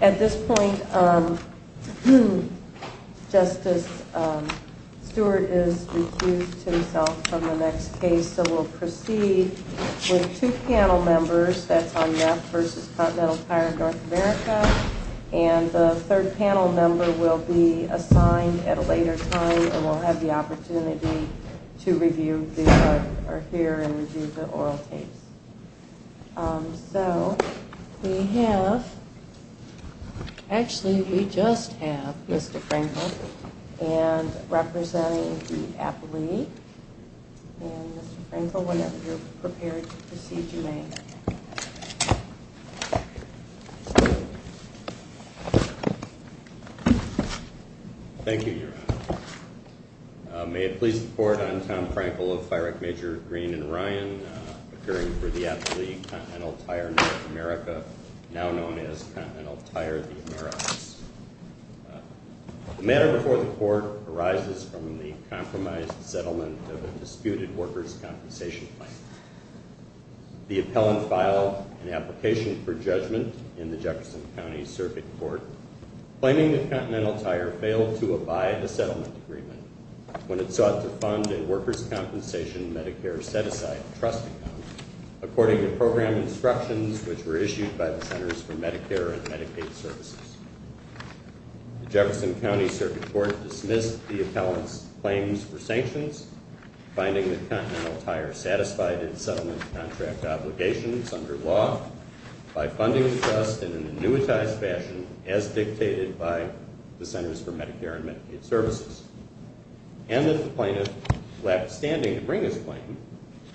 At this point, Justice Stewart is recused to himself from the next case, so we'll proceed with two panel members. That's on Neff v. Continental Tire North America, and the third panel member will be assigned at a later time, and we'll have the opportunity to review the oral tapes. So we have—actually, we just have Mr. Frankel representing the Appellee. And, Mr. Frankel, whenever you're prepared to proceed, you may. May it please the Court, I'm Tom Frankel of Fire Act Major Green and Ryan, occurring for the Appellee, Continental Tire North America, now known as Continental Tire, the Americas. The matter before the Court arises from the compromised settlement of a disputed workers' compensation plan. The appellant filed an application for judgment in the Jefferson County Circuit Court, claiming that Continental Tire failed to abide the settlement agreement when it sought to fund a workers' compensation Medicare set-aside trust account, according to program instructions which were issued by the Centers for Medicare and Medicaid Services. The Jefferson County Circuit Court dismissed the appellant's claims for sanctions, finding that Continental Tire satisfied its settlement contract obligations under law by funding the trust in an annuitized fashion as dictated by the Centers for Medicare and Medicaid Services, and that the plaintiff lacked standing to bring his claim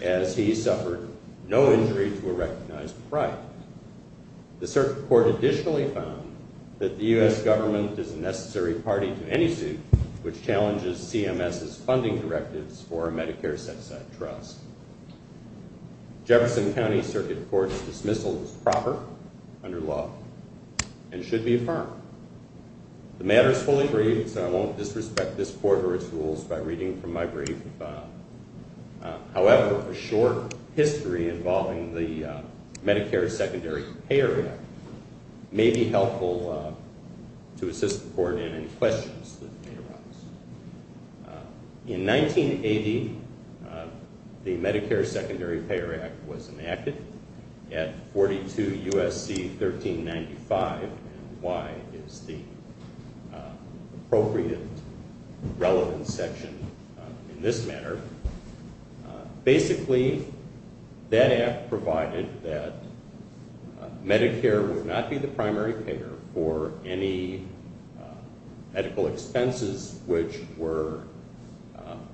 as he suffered no injury to a recognized crime. The Circuit Court additionally found that the U.S. government is a necessary party to any suit which challenges CMS's funding directives for a Medicare set-aside trust. Jefferson County Circuit Court's dismissal is proper, under law, and should be affirmed. The matter is fully briefed, so I won't disrespect this Court or its rules by reading from my brief. However, a short history involving the Medicare Secondary Payor Act may be helpful to assist the Court in any questions that may arise. In 1980, the Medicare Secondary Payor Act was enacted at 42 U.S.C. 1395, and why is the appropriate relevant section in this matter. Basically, that act provided that Medicare would not be the primary payer for any medical expenses which were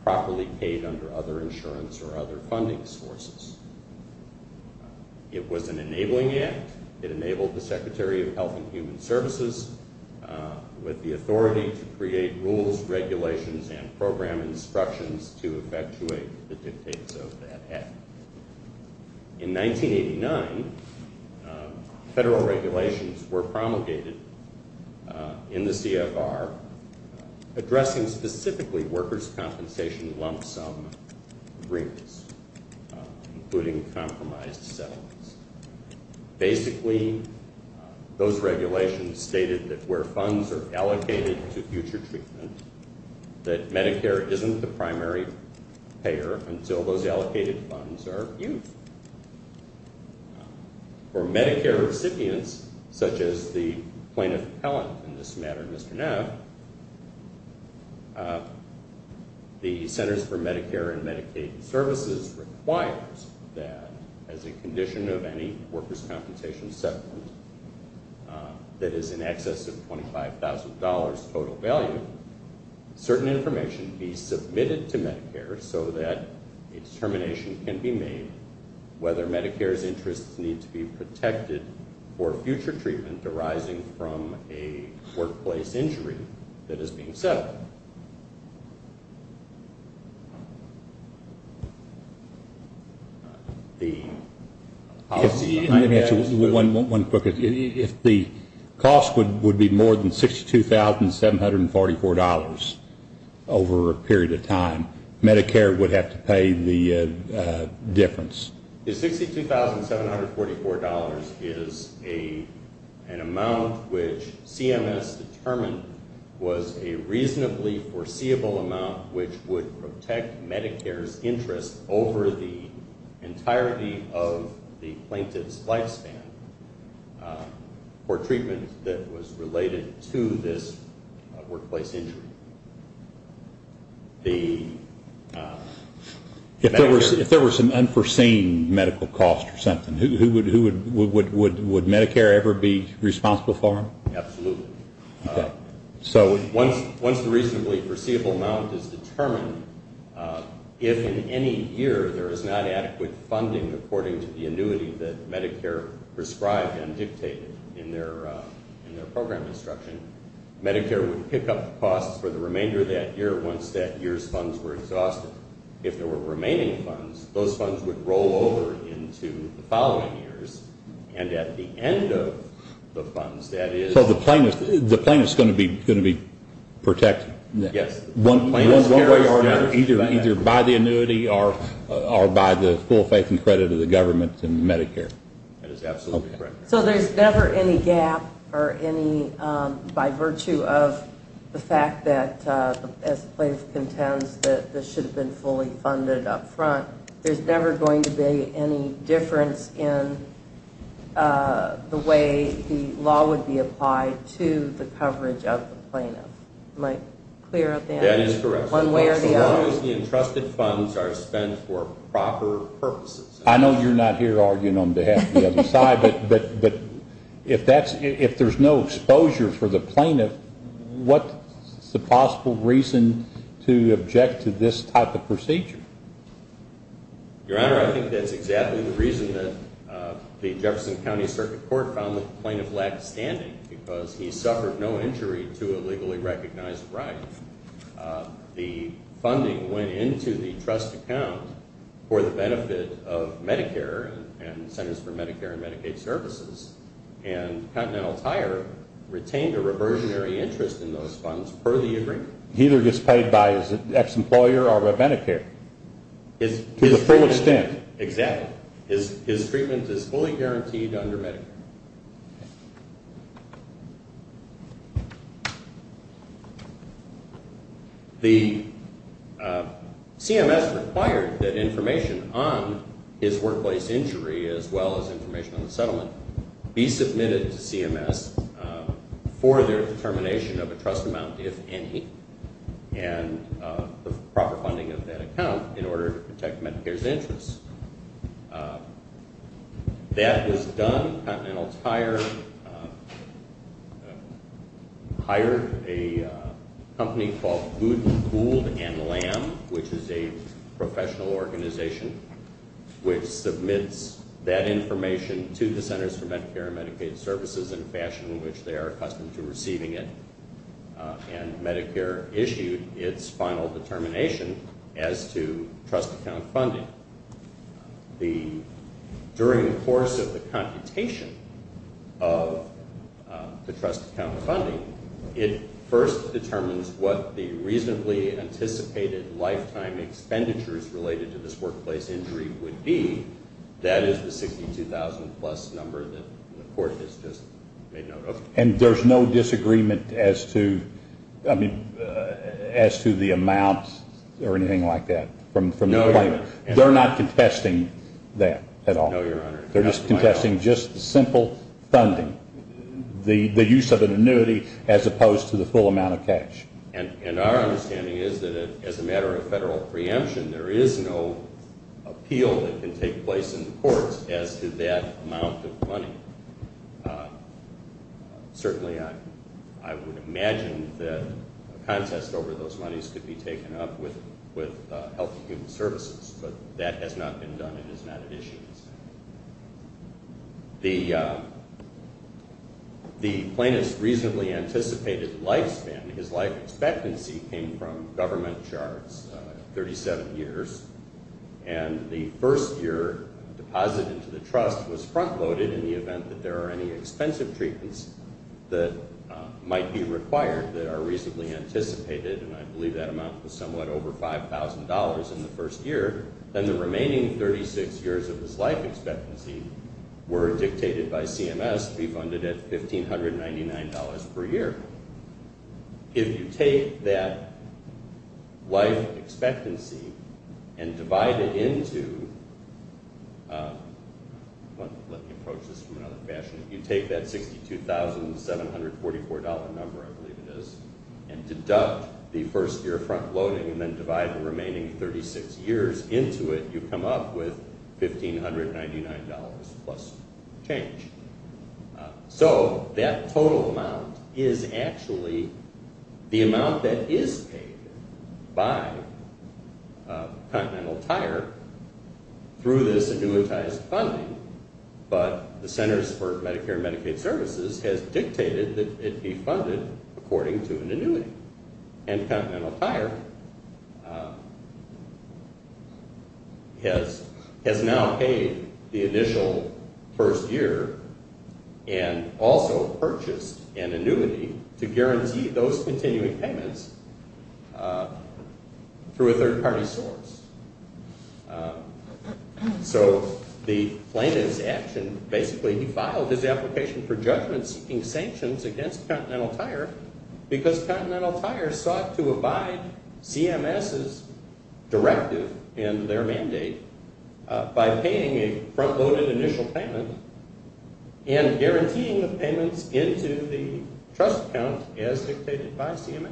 properly paid under other insurance or other funding sources. It was an enabling act. It enabled the Secretary of Health and Human Services with the authority to create rules, regulations, and program instructions to effectuate the dictates of that act. In 1989, federal regulations were promulgated in the CFR addressing specifically workers' compensation lump sum agreements, including compromised settlements. Basically, those regulations stated that where funds are allocated to future treatment, that Medicare isn't the primary payer until those allocated funds are used. For Medicare recipients, such as the plaintiff appellant in this matter, Mr. Neff, the Centers for Medicare and Medicaid Services requires that as a condition of any workers' compensation settlement that is in excess of $25,000 total value, certain information be submitted to Medicare so that a determination can be made whether Medicare's interests need to be protected for future treatment arising from a workplace injury that is being settled. If the cost would be more than $62,744 over a period of time, Medicare would have to pay the difference. The $62,744 is an amount which CMS determined was a reasonably foreseeable amount which would protect Medicare's interest over the entirety of the plaintiff's lifespan for treatment that was related to this workplace injury. If there was some unforeseen medical cost or something, would Medicare ever be responsible for it? Absolutely. Once the reasonably foreseeable amount is determined, if in any year there is not adequate funding according to the annuity that Medicare prescribed and dictated in their program instruction, Medicare would pick up the costs for the remainder of that year once that year's funds were exhausted. If there were remaining funds, those funds would roll over into the following years, and at the end of the funds, that is So the plaintiff is going to be protected? Yes. Either by the annuity or by the full faith and credit of the government and Medicare? That is absolutely correct. So there's never any gap by virtue of the fact that, as the plaintiff contends, that this should have been fully funded up front. There's never going to be any difference in the way the law would be applied to the coverage of the plaintiff. Am I clear on that? That is correct. One way or the other. As long as the entrusted funds are spent for proper purposes. I know you're not here arguing on behalf of the other side, but if there's no exposure for the plaintiff, what's the possible reason to object to this type of procedure? Your Honor, I think that's exactly the reason that the Jefferson County Circuit Court found that the plaintiff lacked standing because he suffered no injury to a legally recognized right. The funding went into the trust account for the benefit of Medicare and Centers for Medicare and Medicaid Services, and Continental Tire retained a reversionary interest in those funds per the agreement. He either gets paid by his ex-employer or by Medicare? To the full extent. Exactly. His treatment is fully guaranteed under Medicare. The CMS required that information on his workplace injury as well as information on the settlement be submitted to CMS for their determination of a trust amount, if any, and the proper funding of that account in order to protect Medicare's interests. That was done. Continental Tire hired a company called Gould & Lamb, which is a professional organization, which submits that information to the Centers for Medicare and Medicaid Services in a fashion in which they are accustomed to receiving it, and Medicare issued its final determination as to trust account funding. During the course of the computation of the trust account funding, it first determines what the reasonably anticipated lifetime expenditures related to this workplace injury would be. That is the 62,000-plus number that the court has just made note of. And there's no disagreement as to the amount or anything like that? No, Your Honor. They're not contesting that at all? No, Your Honor. They're just contesting just the simple funding, the use of an annuity as opposed to the full amount of cash? And our understanding is that as a matter of federal preemption, there is no appeal that can take place in the courts as to that amount of money. Certainly I would imagine that a contest over those monies could be taken up with Health and Human Services, but that has not been done and is not at issue. The plaintiff's reasonably anticipated lifespan, his life expectancy, came from government charts, 37 years, and the first-year deposit into the trust was front-loaded in the event that there are any expensive treatments that might be required that are reasonably anticipated, and I believe that amount was somewhat over $5,000 in the first year. Then the remaining 36 years of his life expectancy were dictated by CMS to be funded at $1,599 per year. If you take that life expectancy and divide it into, let me approach this from another fashion, if you take that $62,744 number, I believe it is, and deduct the first-year front-loading and then divide the remaining 36 years into it, you come up with $1,599 plus change. So that total amount is actually the amount that is paid by Continental Tire through this annuitized funding, but the Centers for Medicare and Medicaid Services has dictated that it be funded according to an annuity, and Continental Tire has now paid the initial first year and also purchased an annuity to guarantee those continuing payments through a third-party source. So the plaintiff's action, basically he filed his application for judgment-seeking sanctions against Continental Tire because Continental Tire sought to abide CMS's directive and their mandate by paying a front-loaded initial payment and guaranteeing the payments into the trust account as dictated by CMS.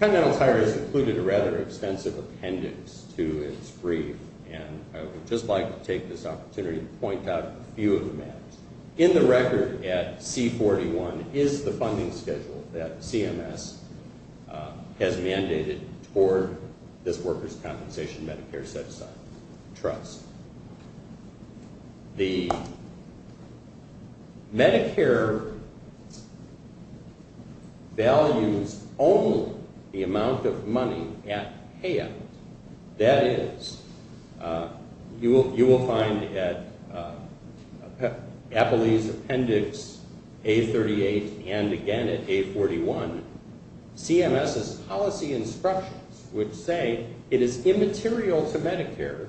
Continental Tire has included a rather extensive appendix to its brief, and I would just like to take this opportunity to point out a few of the maps. In the record at C-41 is the funding schedule that CMS has mandated for this workers' compensation Medicare set-aside trust. The Medicare values only the amount of money at hand. That is, you will find at Appley's appendix A-38 and again at A-41, CMS's policy instructions, which say it is immaterial to Medicare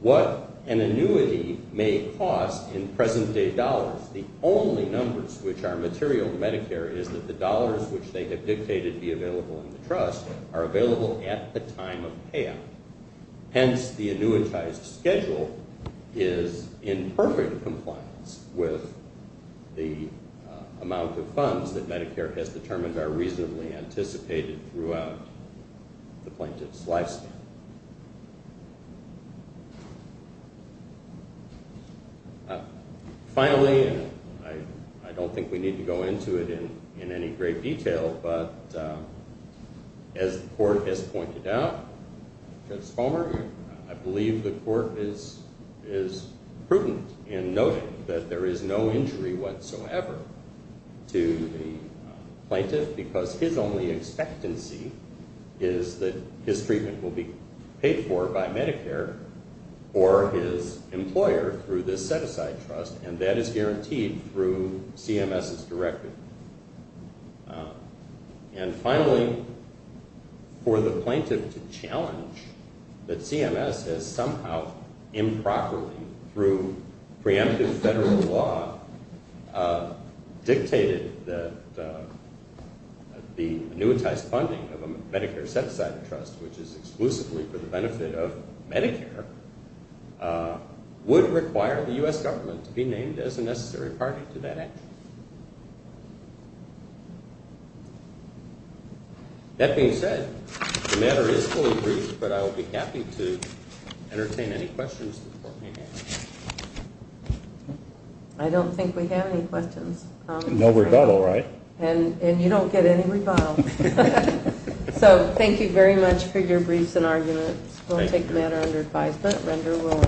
what an annuity may cost in present-day dollars. The only numbers which are material to Medicare is that the dollars which they have dictated be available in the trust are available at the time of payout. Hence, the annuitized schedule is in perfect compliance with the amount of funds that Medicare has determined are reasonably anticipated throughout the plaintiff's lifespan. Finally, and I don't think we need to go into it in any great detail, but as the court has pointed out, Judge Palmer, I believe the court is prudent in noting that there is no injury whatsoever to the plaintiff because his only expectancy is that his treatment will be paid for by Medicare for his employer through this set-aside trust, and that is guaranteed through CMS's directive. And finally, for the plaintiff to challenge that CMS has somehow improperly, through preemptive federal law, dictated that the annuitized funding of a Medicare set-aside trust, which is exclusively for the benefit of Medicare, would require the U.S. government to be named as a necessary party to that action. That being said, the matter is fully briefed, but I will be happy to entertain any questions the court may have. I don't think we have any questions. No rebuttal, right? And you don't get any rebuttal. So thank you very much for your briefs and arguments. We'll take the matter under advisement.